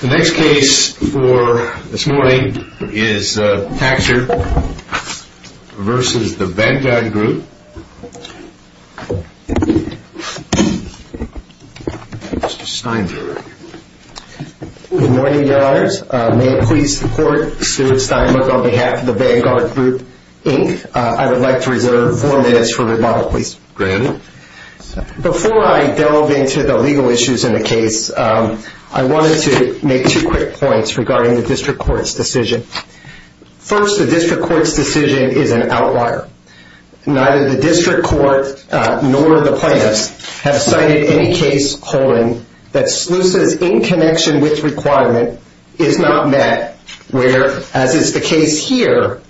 The next case for this morning is Taksir v. The Vanguard Group. Mr. Steinberg. Good morning, Your Honors. May it please the Court, Stuart Steinberg on behalf of The Vanguard Group, Inc. I would like to reserve four minutes for rebuttal, please. Go ahead. Before I delve into the legal issues in the case, I wanted to make two quick points regarding the District Court's decision. First, the District Court's decision is an outlier. Neither the District Court nor the plaintiffs have cited any case holding that SLUSA's in connection with requirement is not met, where, as is the case here,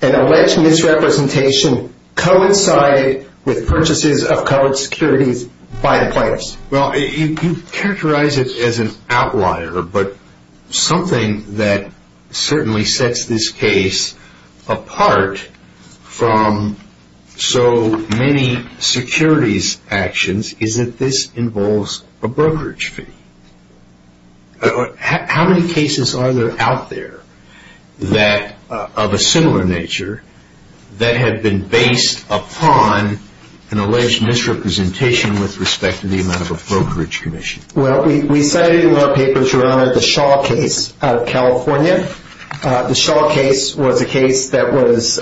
an alleged misrepresentation coincided with purchases of covered securities by the plaintiffs. Well, you characterize it as an outlier, but something that certainly sets this case apart from so many securities actions is that this involves a brokerage fee. How many cases are there out there of a similar nature that have been based upon an alleged misrepresentation with respect to the amount of a brokerage commission? Well, we cited in our paper, Your Honor, the Shaw case out of California. The Shaw case was a case that was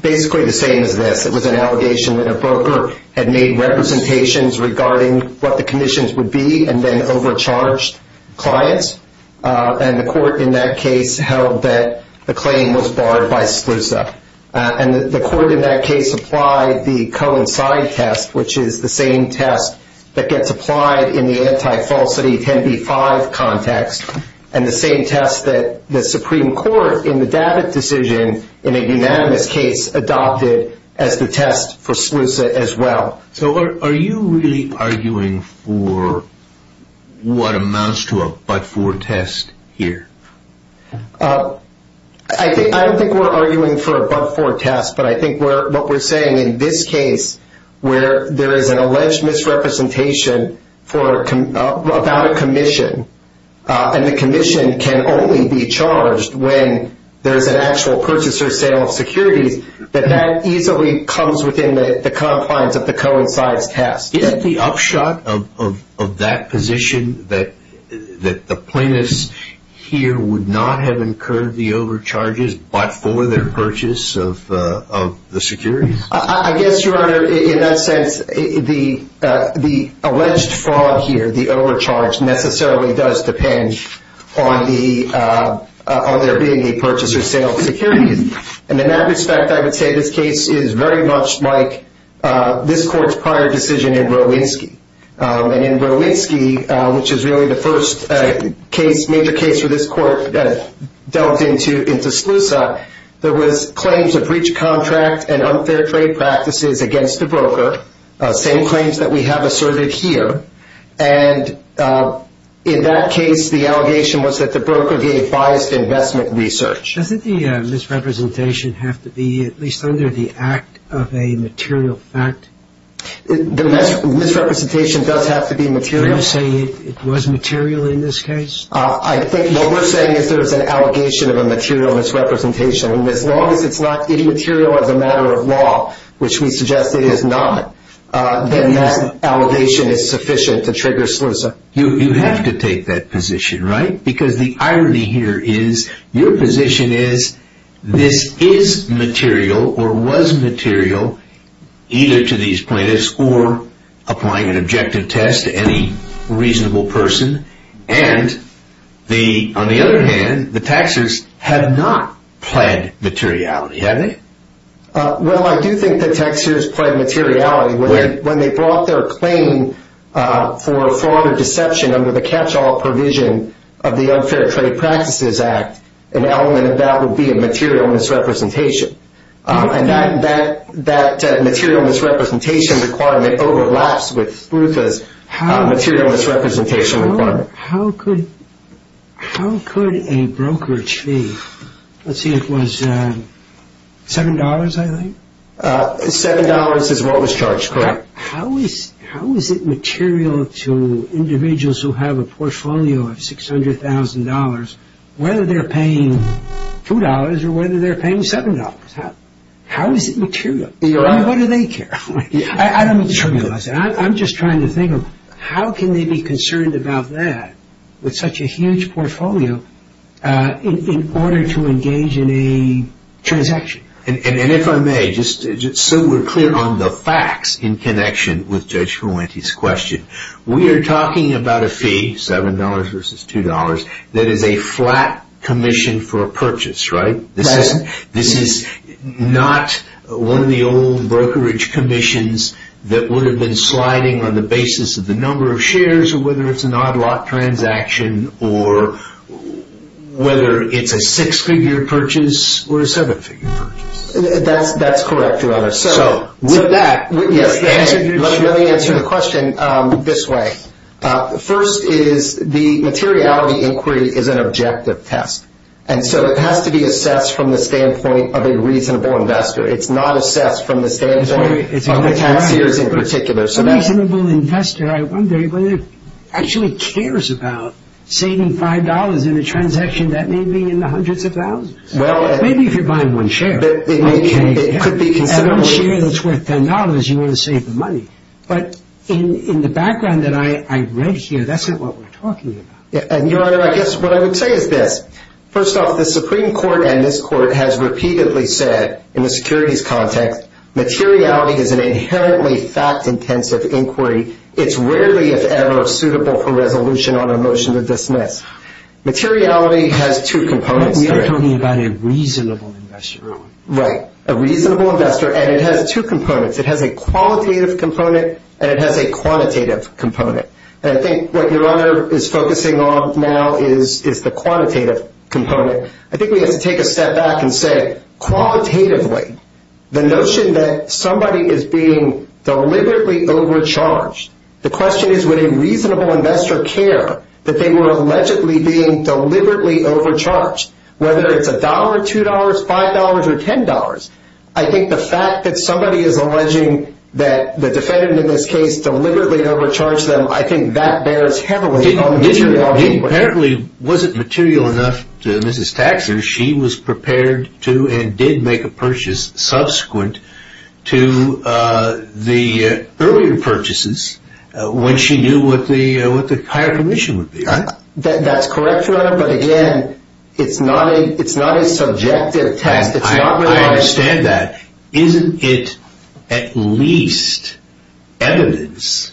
basically the same as this. It was an allegation that a broker had made representations regarding what the commissions would be and then overcharged clients. And the court in that case held that the claim was barred by SLUSA. And the court in that case applied the coincide test, which is the same test that gets applied in the anti-falsity 10b-5 context, and the same test that the Supreme Court in the Davitt decision in a unanimous case adopted as the test for SLUSA as well. So are you really arguing for what amounts to a but-for test here? I don't think we're arguing for a but-for test, but I think what we're saying in this case where there is an alleged misrepresentation about a commission and the commission can only be charged when there is an actual purchaser sale of securities, that that easily comes within the compliance of the coincides test. Isn't the upshot of that position that the plaintiffs here would not have incurred the overcharges but for their purchase of the securities? I guess, Your Honor, in that sense, the alleged fraud here, the overcharge, necessarily does depend on there being a purchaser sale of securities. And in that respect, I would say this case is very much like this court's prior decision in Rowinsky. And in Rowinsky, which is really the first major case where this court delved into SLUSA, there was claims of breach of contract and unfair trade practices against the broker, same claims that we have asserted here. And in that case, the allegation was that the broker gave biased investment research. Doesn't the misrepresentation have to be at least under the act of a material fact? The misrepresentation does have to be material. Are you saying it was material in this case? I think what we're saying is there's an allegation of a material misrepresentation. And as long as it's not immaterial as a matter of law, which we suggest it is not, then that allegation is sufficient to trigger SLUSA. You have to take that position, right? Because the irony here is your position is this is material or was material either to these plaintiffs or applying an objective test to any reasonable person. And on the other hand, the taxers have not pled materiality, have they? Well, I do think the taxers pled materiality. When they brought their claim for a fraud or deception under the catch-all provision of the Unfair Trade Practices Act, an element of that would be a material misrepresentation. And that material misrepresentation requirement overlaps with SLUSA's material misrepresentation requirement. How could a broker achieve, let's see, it was $7, I think? $7 is what was charged, correct. How is it material to individuals who have a portfolio of $600,000, whether they're paying $2 or whether they're paying $7? How is it material? I mean, what do they care? I don't mean to trivialize it. I'm just trying to think of how can they be concerned about that with such a huge portfolio in order to engage in a transaction? And if I may, just so we're clear on the facts in connection with Judge Fuente's question, we are talking about a fee, $7 versus $2, that is a flat commission for a purchase, right? Right. This is not one of the old brokerage commissions that would have been sliding on the basis of the number of shares or whether it's an odd lot transaction or whether it's a six-figure purchase or a seven-figure purchase. That's correct, Your Honor. So with that, let me answer the question this way. First is the materiality inquiry is an objective test, and so it has to be assessed from the standpoint of a reasonable investor. It's not assessed from the standpoint of the taxiers in particular. A reasonable investor, I wonder, actually cares about saving $5 in a transaction that may be in the hundreds of thousands. Maybe if you're buying one share. It could be considerably. If you have a share that's worth $10, you want to save the money. But in the background that I read here, that's not what we're talking about. Your Honor, I guess what I would say is this. First off, the Supreme Court and this Court has repeatedly said in the securities context, materiality is an inherently fact-intensive inquiry. It's rarely, if ever, suitable for resolution on a motion to dismiss. Materiality has two components. You're talking about a reasonable investor. Right, a reasonable investor, and it has two components. It has a qualitative component and it has a quantitative component. And I think what Your Honor is focusing on now is the quantitative component. I think we have to take a step back and say, qualitatively, the notion that somebody is being deliberately overcharged, the question is would a reasonable investor care that they were allegedly being deliberately overcharged, whether it's $1, $2, $5, or $10. I think the fact that somebody is alleging that the defendant in this case deliberately overcharged them, I think that bears heavily on the materiality of the inquiry. It apparently wasn't material enough to Mrs. Taxxer. She was prepared to and did make a purchase subsequent to the earlier purchases when she knew what the higher commission would be. That's correct, Your Honor, but again, it's not a subjective test. I understand that. Isn't it at least evidence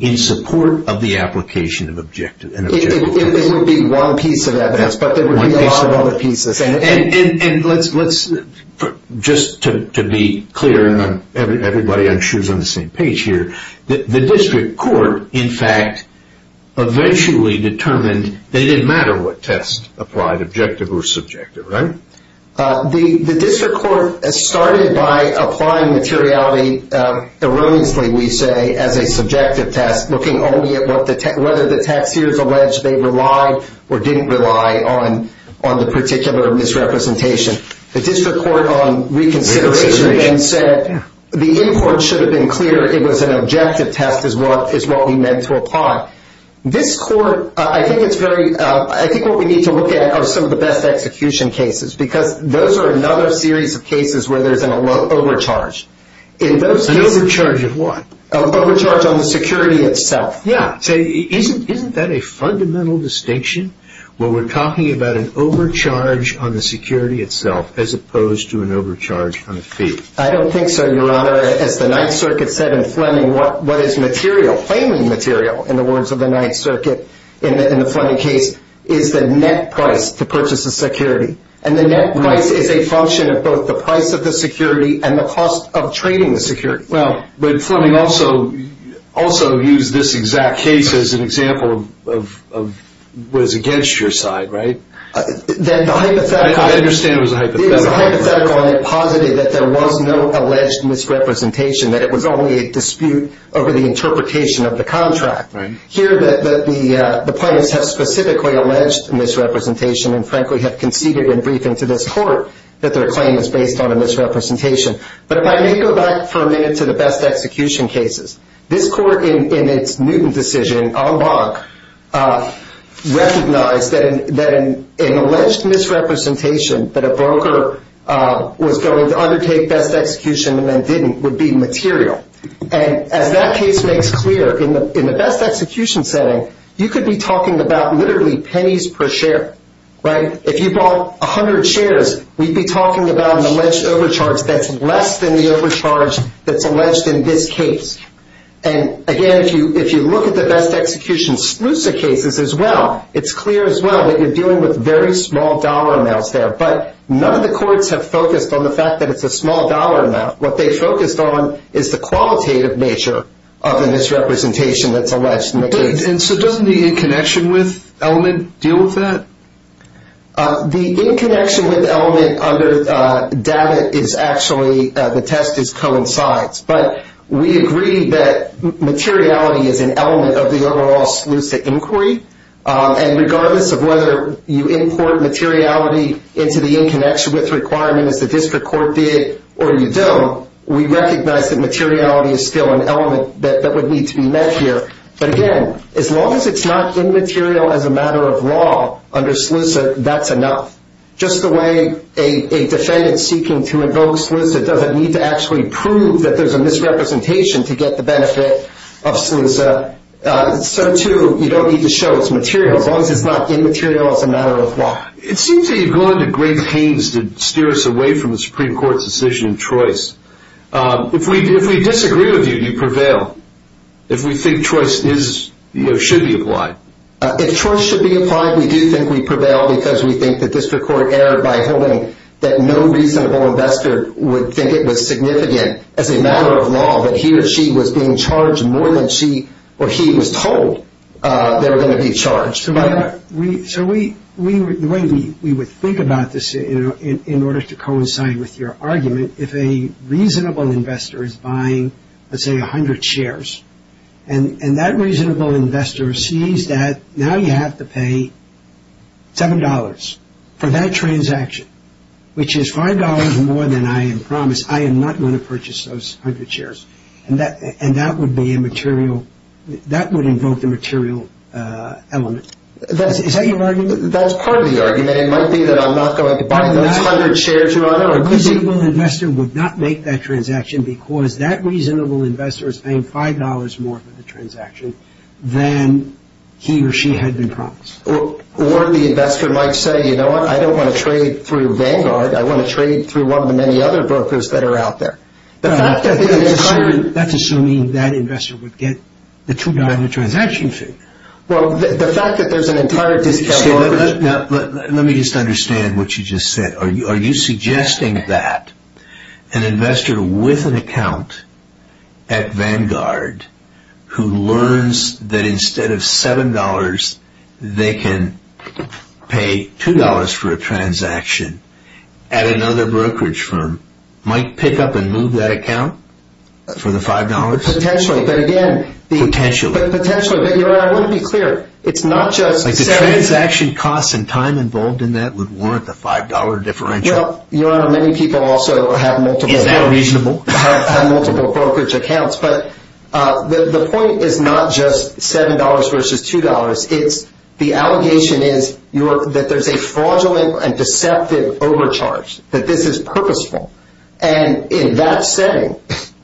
in support of the application of an objective? It would be one piece of evidence, but there would be a lot of other pieces. Just to be clear, and everybody on the same page here, the district court, in fact, eventually determined that it didn't matter what test applied, objective or subjective, right? The district court started by applying materiality erroneously, we say, as a subjective test, looking only at whether the Taxxers alleged they relied or didn't rely on the particular misrepresentation. The district court on reconsideration then said the import should have been clear. It was an objective test is what we meant to apply. This court, I think what we need to look at are some of the best execution cases, because those are another series of cases where there's an overcharge. An overcharge of what? An overcharge on the security itself. Yeah. Isn't that a fundamental distinction when we're talking about an overcharge on the security itself as opposed to an overcharge on the fee? I don't think so, Your Honor. As the Ninth Circuit said in Fleming, what is material, claiming material, in the words of the Ninth Circuit in the Fleming case, is the net price to purchase a security. And the net price is a function of both the price of the security and the cost of trading the security. Well, but Fleming also used this exact case as an example of what is against your side, right? I understand it was a hypothetical. It was a hypothetical, and it posited that there was no alleged misrepresentation, that it was only a dispute over the interpretation of the contract. Here, the plaintiffs have specifically alleged misrepresentation and frankly have conceded in briefing to this court that their claim is based on a misrepresentation. But if I may go back for a minute to the best execution cases, this court in its Newton decision, en banc, recognized that an alleged misrepresentation that a broker was going to undertake best execution and then didn't would be material. And as that case makes clear, in the best execution setting, you could be talking about literally pennies per share, right? If you bought 100 shares, we'd be talking about an alleged overcharge that's less than the overcharge that's alleged in this case. And again, if you look at the best execution SLUSA cases as well, it's clear as well that you're dealing with very small dollar amounts there. But none of the courts have focused on the fact that it's a small dollar amount. What they focused on is the qualitative nature of the misrepresentation that's alleged in the case. And so doesn't the in connection with element deal with that? The in connection with element under DAVIT is actually, the test is coincides. But we agree that materiality is an element of the overall SLUSA inquiry. And regardless of whether you import materiality into the in connection with requirement as the district court did or you don't, we recognize that materiality is still an element that would need to be met here. But again, as long as it's not immaterial as a matter of law under SLUSA, that's enough. Just the way a defendant seeking to invoke SLUSA doesn't need to actually prove that there's a misrepresentation to get the benefit of SLUSA, so too you don't need to show it's material as long as it's not immaterial as a matter of law. It seems that you've gone to great pains to steer us away from the Supreme Court's decision in choice. If we disagree with you, you prevail. If we think choice should be applied. If choice should be applied, we do think we prevail because we think the district court erred by holding that no reasonable investor would think it was significant as a matter of law that he or she was being charged more than she or he was told they were going to be charged. So the way we would think about this in order to coincide with your argument, if a reasonable investor is buying, let's say, 100 shares, and that reasonable investor sees that now you have to pay $7 for that transaction, which is $5 more than I have promised, I am not going to purchase those 100 shares. And that would be immaterial, that would invoke the material element. Is that your argument? That's part of the argument. It might be that I'm not going to buy those 100 shares, Your Honor. A reasonable investor would not make that transaction because that reasonable investor is paying $5 more for the transaction than he or she had been promised. Or the investor might say, you know what, I don't want to trade through Vanguard, I want to trade through one of the many other brokers that are out there. That's assuming that investor would get the $2 transaction fee. Well, the fact that there's an entire discount offer... Let me just understand what you just said. Are you suggesting that an investor with an account at Vanguard, who learns that instead of $7, they can pay $2 for a transaction at another brokerage firm, might pick up and move that account for the $5? Potentially. Potentially. But, Your Honor, I want to be clear. The transaction costs and time involved in that would warrant the $5 differential. Your Honor, many people also have multiple brokerage accounts. But the point is not just $7 versus $2. The allegation is that there's a fraudulent and deceptive overcharge, that this is purposeful. And in that setting,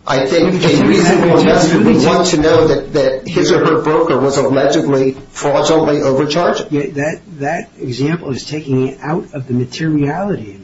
I think a reasonable investor would want to know that his or her broker was allegedly fraudulently overcharged. That example is taking it out of the materiality.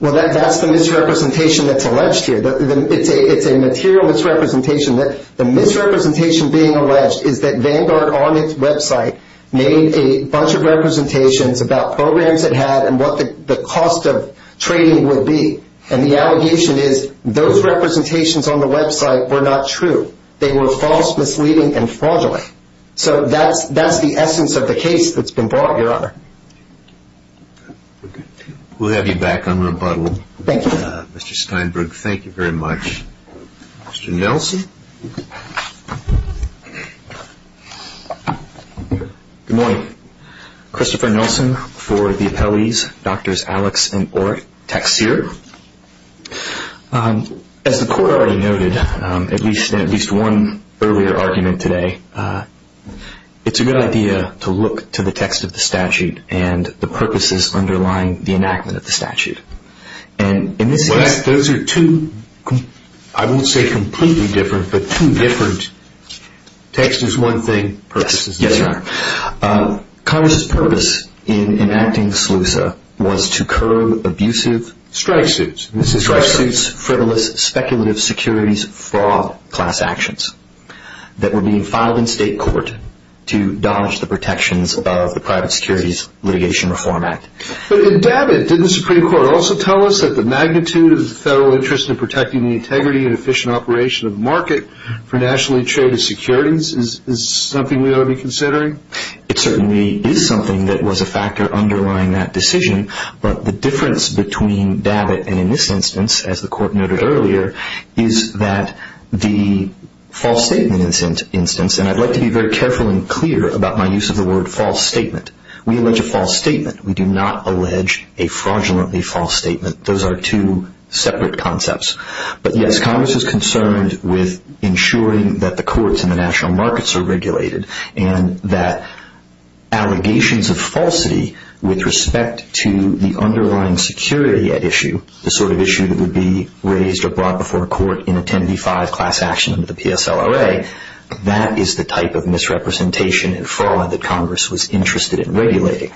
Well, that's the misrepresentation that's alleged here. It's a material misrepresentation. The misrepresentation being alleged is that Vanguard, on its website, made a bunch of representations about programs it had and what the cost of trading would be. And the allegation is those representations on the website were not true. They were false, misleading, and fraudulent. So that's the essence of the case that's been brought, Your Honor. We'll have you back on rebuttal. Thank you. Mr. Steinberg, thank you very much. Mr. Nelson? Good morning. Christopher Nelson for the appellees, Drs. Alex and Ortexier. As the court already noted in at least one earlier argument today, it's a good idea to look to the text of the statute and the purposes underlying the enactment of the statute. Those are two, I won't say completely different, but two different... Text is one thing, purpose is the other. Yes, Your Honor. Congress' purpose in enacting SLUSA was to curb abusive... Strike suits. Strike suits, frivolous, speculative securities, fraud-class actions that were being filed in state court to dodge the protections of the Private Securities Litigation Reform Act. But in that, didn't the Supreme Court also tell us that the magnitude of the federal interest in protecting the integrity and efficient operation of the market for nationally traded securities is something we ought to be considering? It certainly is something that was a factor underlying that decision, but the difference between DABIT and in this instance, as the court noted earlier, is that the false statement instance, and I'd like to be very careful and clear about my use of the word false statement. We allege a false statement. We do not allege a fraudulently false statement. Those are two separate concepts. But yes, Congress is concerned with ensuring that the courts and the national markets are regulated and that allegations of falsity with respect to the underlying security at issue, the sort of issue that would be raised or brought before a court in a 1085 class action under the PSLRA, that is the type of misrepresentation and fraud that Congress was interested in regulating.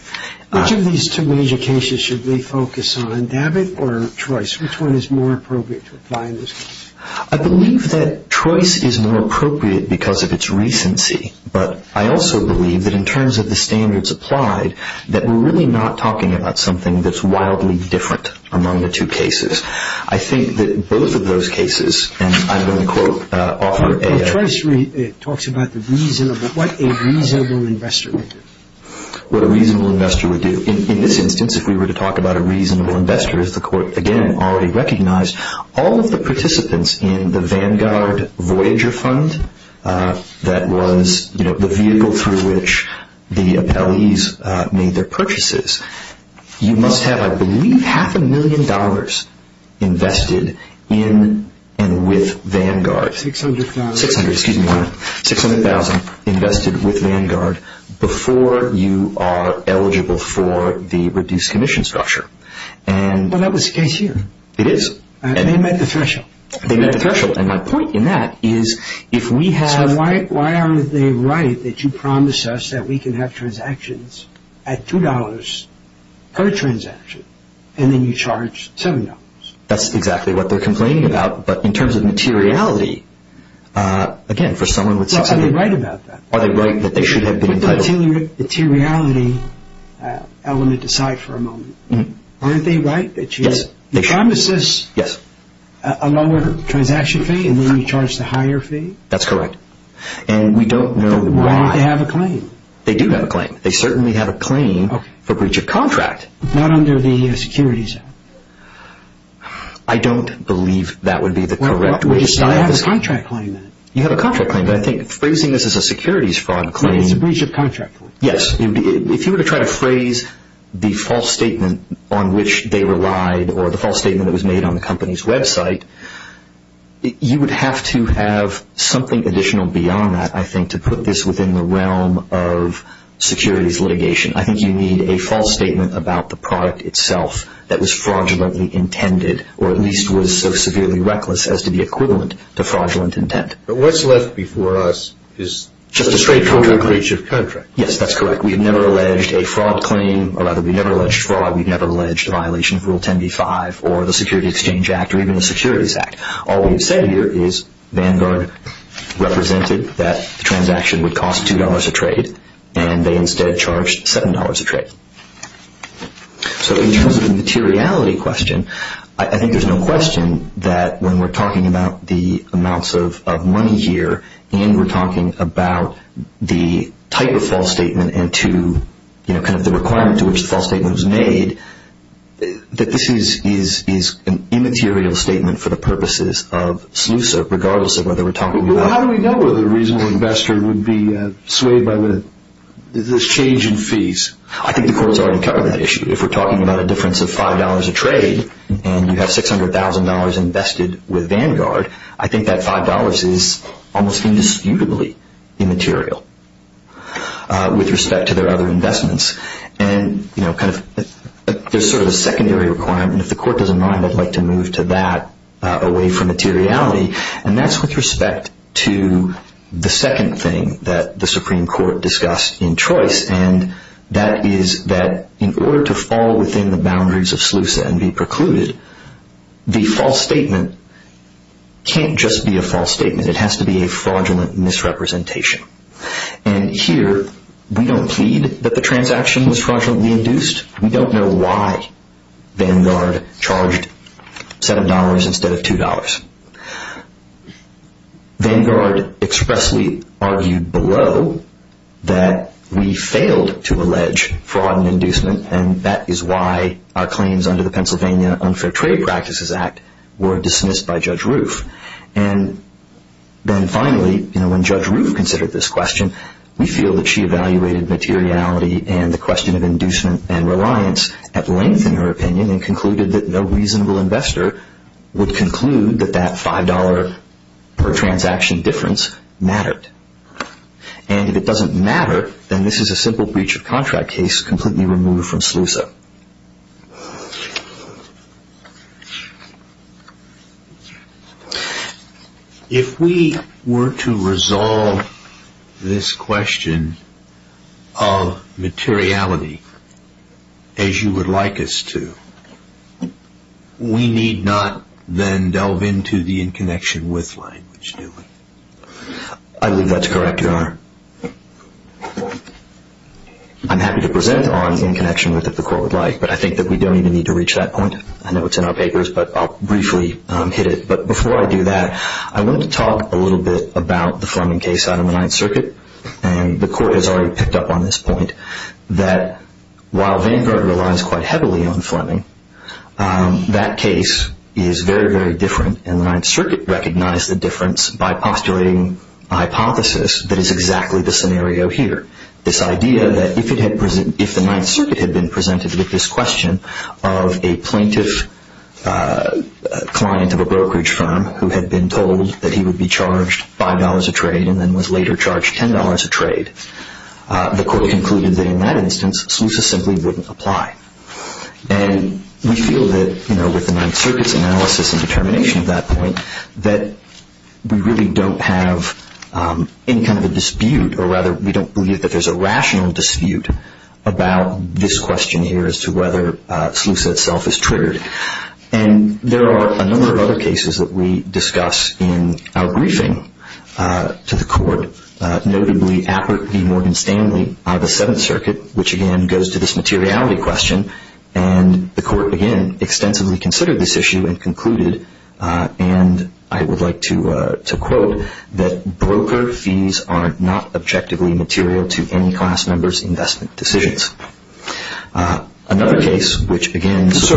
Which of these two major cases should we focus on, DABIT or Trois? Which one is more appropriate to apply in this case? I believe that Trois is more appropriate because of its recency, but I also believe that in terms of the standards applied, that we're really not talking about something that's wildly different among the two cases. I think that both of those cases, and I'm going to quote Arthur A. Trois talks about what a reasonable investor would do. What a reasonable investor would do. In this instance, if we were to talk about a reasonable investor, as the court, again, already recognized, all of the participants in the Vanguard Voyager Fund, that was the vehicle through which the appellees made their purchases, you must have, I believe, half a million dollars invested in and with Vanguard. 600,000. 600,000 invested with Vanguard before you are eligible for the reduced commission structure. Well, that was the case here. It is. They met the threshold. They met the threshold, and my point in that is if we have... So why aren't they right that you promise us that we can have transactions at $2 per transaction, and then you charge $7? That's exactly what they're complaining about, but in terms of materiality, again, for someone with 600,000... Well, are they right about that? Are they right that they should have been entitled... With the materiality element aside for a moment, aren't they right that you... Yes, they should. Promise us a lower transaction fee, and then you charge the higher fee? That's correct. And we don't know why. They want to have a claim. They do have a claim. They certainly have a claim for breach of contract. Not under the securities act. I don't believe that would be the correct way to... I have a contract claim. You have a contract claim, but I think phrasing this as a securities fraud claim... It's a breach of contract. Yes. If you were to try to phrase the false statement on which they relied, or the false statement that was made on the company's website, you would have to have something additional beyond that, I think, to put this within the realm of securities litigation. I think you need a false statement about the product itself that was fraudulently intended, or at least was so severely reckless as to be equivalent to fraudulent intent. But what's left before us is a breach of contract. Yes, that's correct. We have never alleged a fraud claim, or rather we've never alleged fraud. We've never alleged a violation of rule 10b-5, or the security exchange act, or even the securities act. All we've said here is Vanguard represented that the transaction would cost $2 a trade, and they instead charged $7 a trade. So in terms of the materiality question, I think there's no question that when we're talking about the amounts of money here, and we're talking about the type of false statement and kind of the requirement to which the false statement was made, that this is an immaterial statement for the purposes of SLUSA, regardless of whether we're talking about. How do we know whether a reasonable investor would be swayed by this change in fees? I think the court has already covered that issue. If we're talking about a difference of $5 a trade, and you have $600,000 invested with Vanguard, I think that $5 is almost indisputably immaterial with respect to their other investments. There's sort of a secondary requirement, and if the court doesn't mind I'd like to move to that away from materiality, and that's with respect to the second thing that the Supreme Court discussed in choice, and that is that in order to fall within the boundaries of SLUSA and be precluded, the false statement can't just be a false statement. It has to be a fraudulent misrepresentation, and here we don't plead that the transaction was fraudulently induced. We don't know why Vanguard charged $7 instead of $2. Vanguard expressly argued below that we failed to allege fraud and inducement, and that is why our claims under the Pennsylvania Unfair Trade Practices Act were dismissed by Judge Roof. And then finally, when Judge Roof considered this question, we feel that she evaluated materiality and the question of inducement and reliance at length in her opinion, and concluded that no reasonable investor would conclude that that $5 per transaction difference mattered. And if it doesn't matter, then this is a simple breach of contract case completely removed from SLUSA. If we were to resolve this question of materiality as you would like us to, we need not then delve into the in connection with language, do we? I believe that's correct, Your Honor. I'm happy to present on in connection with if the Court would like, but I think that we don't even need to reach that point. I know it's in our papers, but I'll briefly hit it. But before I do that, I wanted to talk a little bit about the Fleming case out of the Ninth Circuit, and the Court has already picked up on this point, that while Vanguard relies quite heavily on Fleming, that case is very, very different, and the Ninth Circuit recognized the difference by postulating a hypothesis that is exactly the scenario here. This idea that if the Ninth Circuit had been presented with this question of a plaintiff client of a brokerage firm who had been told that he would be charged $5 a trade and then was later charged $10 a trade, the Court concluded that in that instance, SLUSA simply wouldn't apply. And we feel that with the Ninth Circuit's analysis and determination at that point, that we really don't have any kind of a dispute, or rather we don't believe that there's a rational dispute about this question here as to whether SLUSA itself is triggered. And there are a number of other cases that we discuss in our briefing to the Court, notably Appert v. Morgan Stanley out of the Seventh Circuit, which again goes to this materiality question, and the Court again extensively considered this issue and concluded, and I would like to quote, that broker fees are not objectively material to any class member's investment decisions. So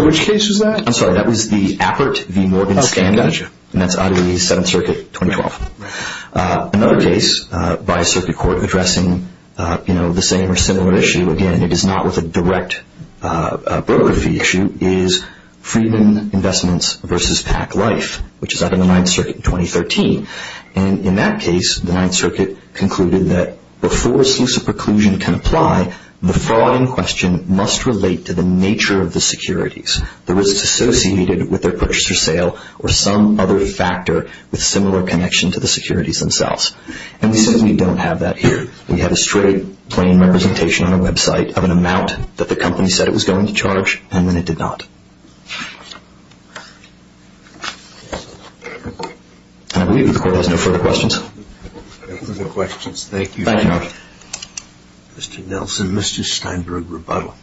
which case was that? I'm sorry, that was the Appert v. Morgan Stanley, and that's out of the Seventh Circuit, 2012. Another case by a circuit court addressing the same or similar issue, again it is not with a direct broker fee issue, is Friedman Investments v. Pack Life, which is out of the Ninth Circuit in 2013. And in that case, the Ninth Circuit concluded that before SLUSA preclusion can apply, the fraud in question must relate to the nature of the securities, the risks associated with their purchase or sale, or some other factor with similar connection to the securities themselves. And we simply don't have that here. We have a straight, plain representation on our website of an amount that the company said it was going to charge, and then it did not. And I believe the Court has no further questions. No further questions. Thank you. Thank you, Your Honor. Mr. Nelson, Mr. Steinberg, rebuttal.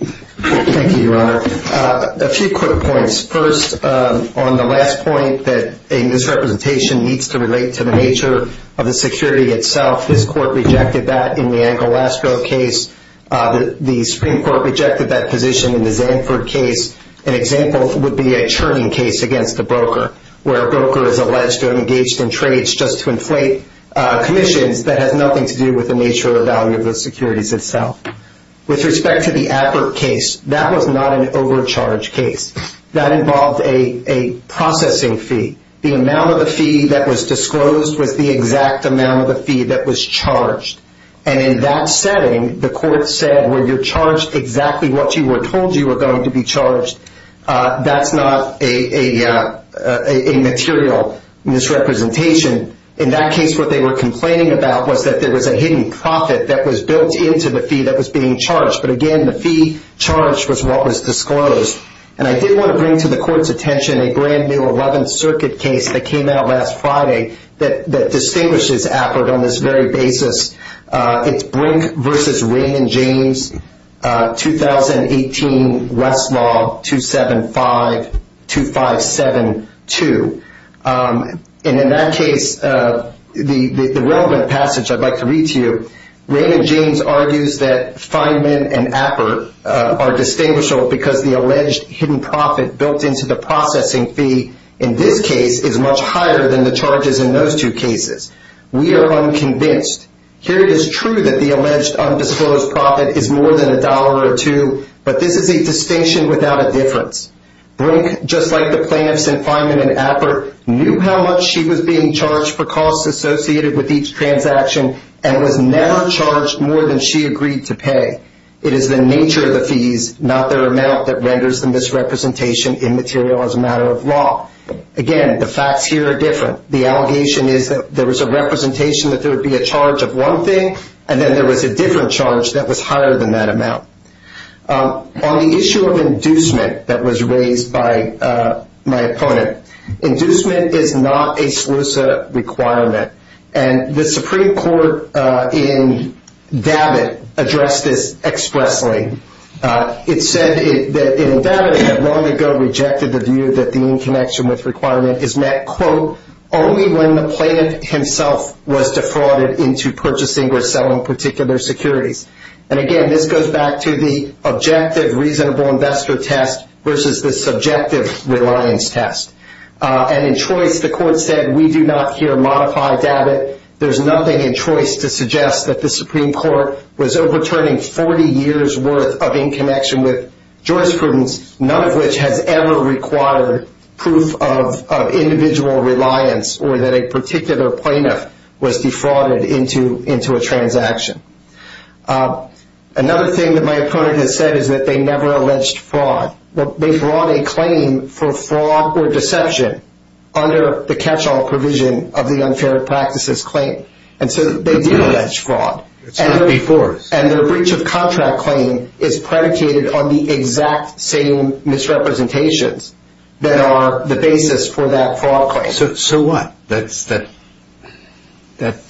Thank you, Your Honor. A few quick points. First, on the last point, that a misrepresentation needs to relate to the nature of the security itself, this Court rejected that in the Angolastro case. The Supreme Court rejected that position in the Zanford case. An example would be a churning case against a broker, where a broker is alleged to have engaged in trades just to inflate commissions that has nothing to do with the nature or value of the securities itself. With respect to the Abbott case, that was not an overcharged case. That involved a processing fee. The amount of the fee that was disclosed was the exact amount of the fee that was charged. And in that setting, the Court said, where you're charged exactly what you were told you were going to be charged, that's not a material misrepresentation. In that case, what they were complaining about was that there was a hidden profit that was built into the fee that was being charged. But again, the fee charged was what was disclosed. And I did want to bring to the Court's attention a brand-new 11th Circuit case that came out last Friday that distinguishes Abbott on this very basis. It's Brink v. Raymond James, 2018 Westlaw 275-2572. And in that case, the relevant passage I'd like to read to you, Raymond James argues that Feynman and Appert are distinguishable because the alleged hidden profit built into the processing fee in this case is much higher than the charges in those two cases. We are unconvinced. Here it is true that the alleged undisclosed profit is more than a dollar or two, but this is a distinction without a difference. Brink, just like the plaintiffs in Feynman and Appert, knew how much she was being charged for costs associated with each transaction and was never charged more than she agreed to pay. It is the nature of the fees, not their amount, that renders the misrepresentation immaterial as a matter of law. Again, the facts here are different. The allegation is that there was a representation that there would be a charge of one thing, and then there was a different charge that was higher than that amount. On the issue of inducement that was raised by my opponent, inducement is not a SLUSA requirement, and the Supreme Court in Davitt addressed this expressly. It said that in Davitt it had long ago rejected the view that the in connection with requirement is met, quote, only when the plaintiff himself was defrauded into purchasing or selling particular securities. And again, this goes back to the objective reasonable investor test versus the subjective reliance test. And in choice, the court said we do not here modify Davitt. There's nothing in choice to suggest that the Supreme Court was overturning 40 years' worth of in connection with jurisprudence, none of which has ever required proof of individual reliance or that a particular plaintiff was defrauded into a transaction. Another thing that my opponent has said is that they never alleged fraud. They brought a claim for fraud or deception under the catch-all provision of the unfair practices claim. And so they did allege fraud. And their breach of contract claim is predicated on the exact same misrepresentations that are the basis for that fraud claim. So what? That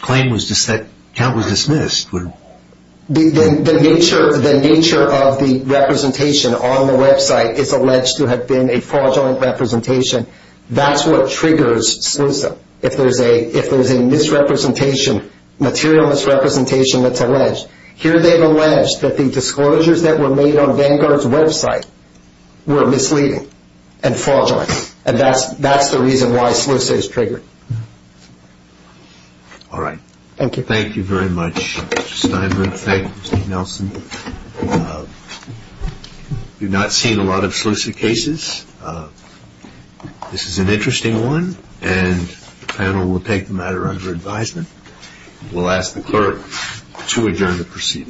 claim was dismissed? The nature of the representation on the website is alleged to have been a fraudulent representation. That's what triggers SLISA. If there's a misrepresentation, material misrepresentation that's alleged, here they've alleged that the disclosures that were made on Vanguard's website were misleading and fraudulent. And that's the reason why SLISA is triggered. All right. Thank you. Thank you very much, Mr. Steinberg. Thank you, Mr. Nelson. We've not seen a lot of SLISA cases. This is an interesting one, and the panel will take the matter under advisement. We'll ask the clerk to adjourn the proceedings.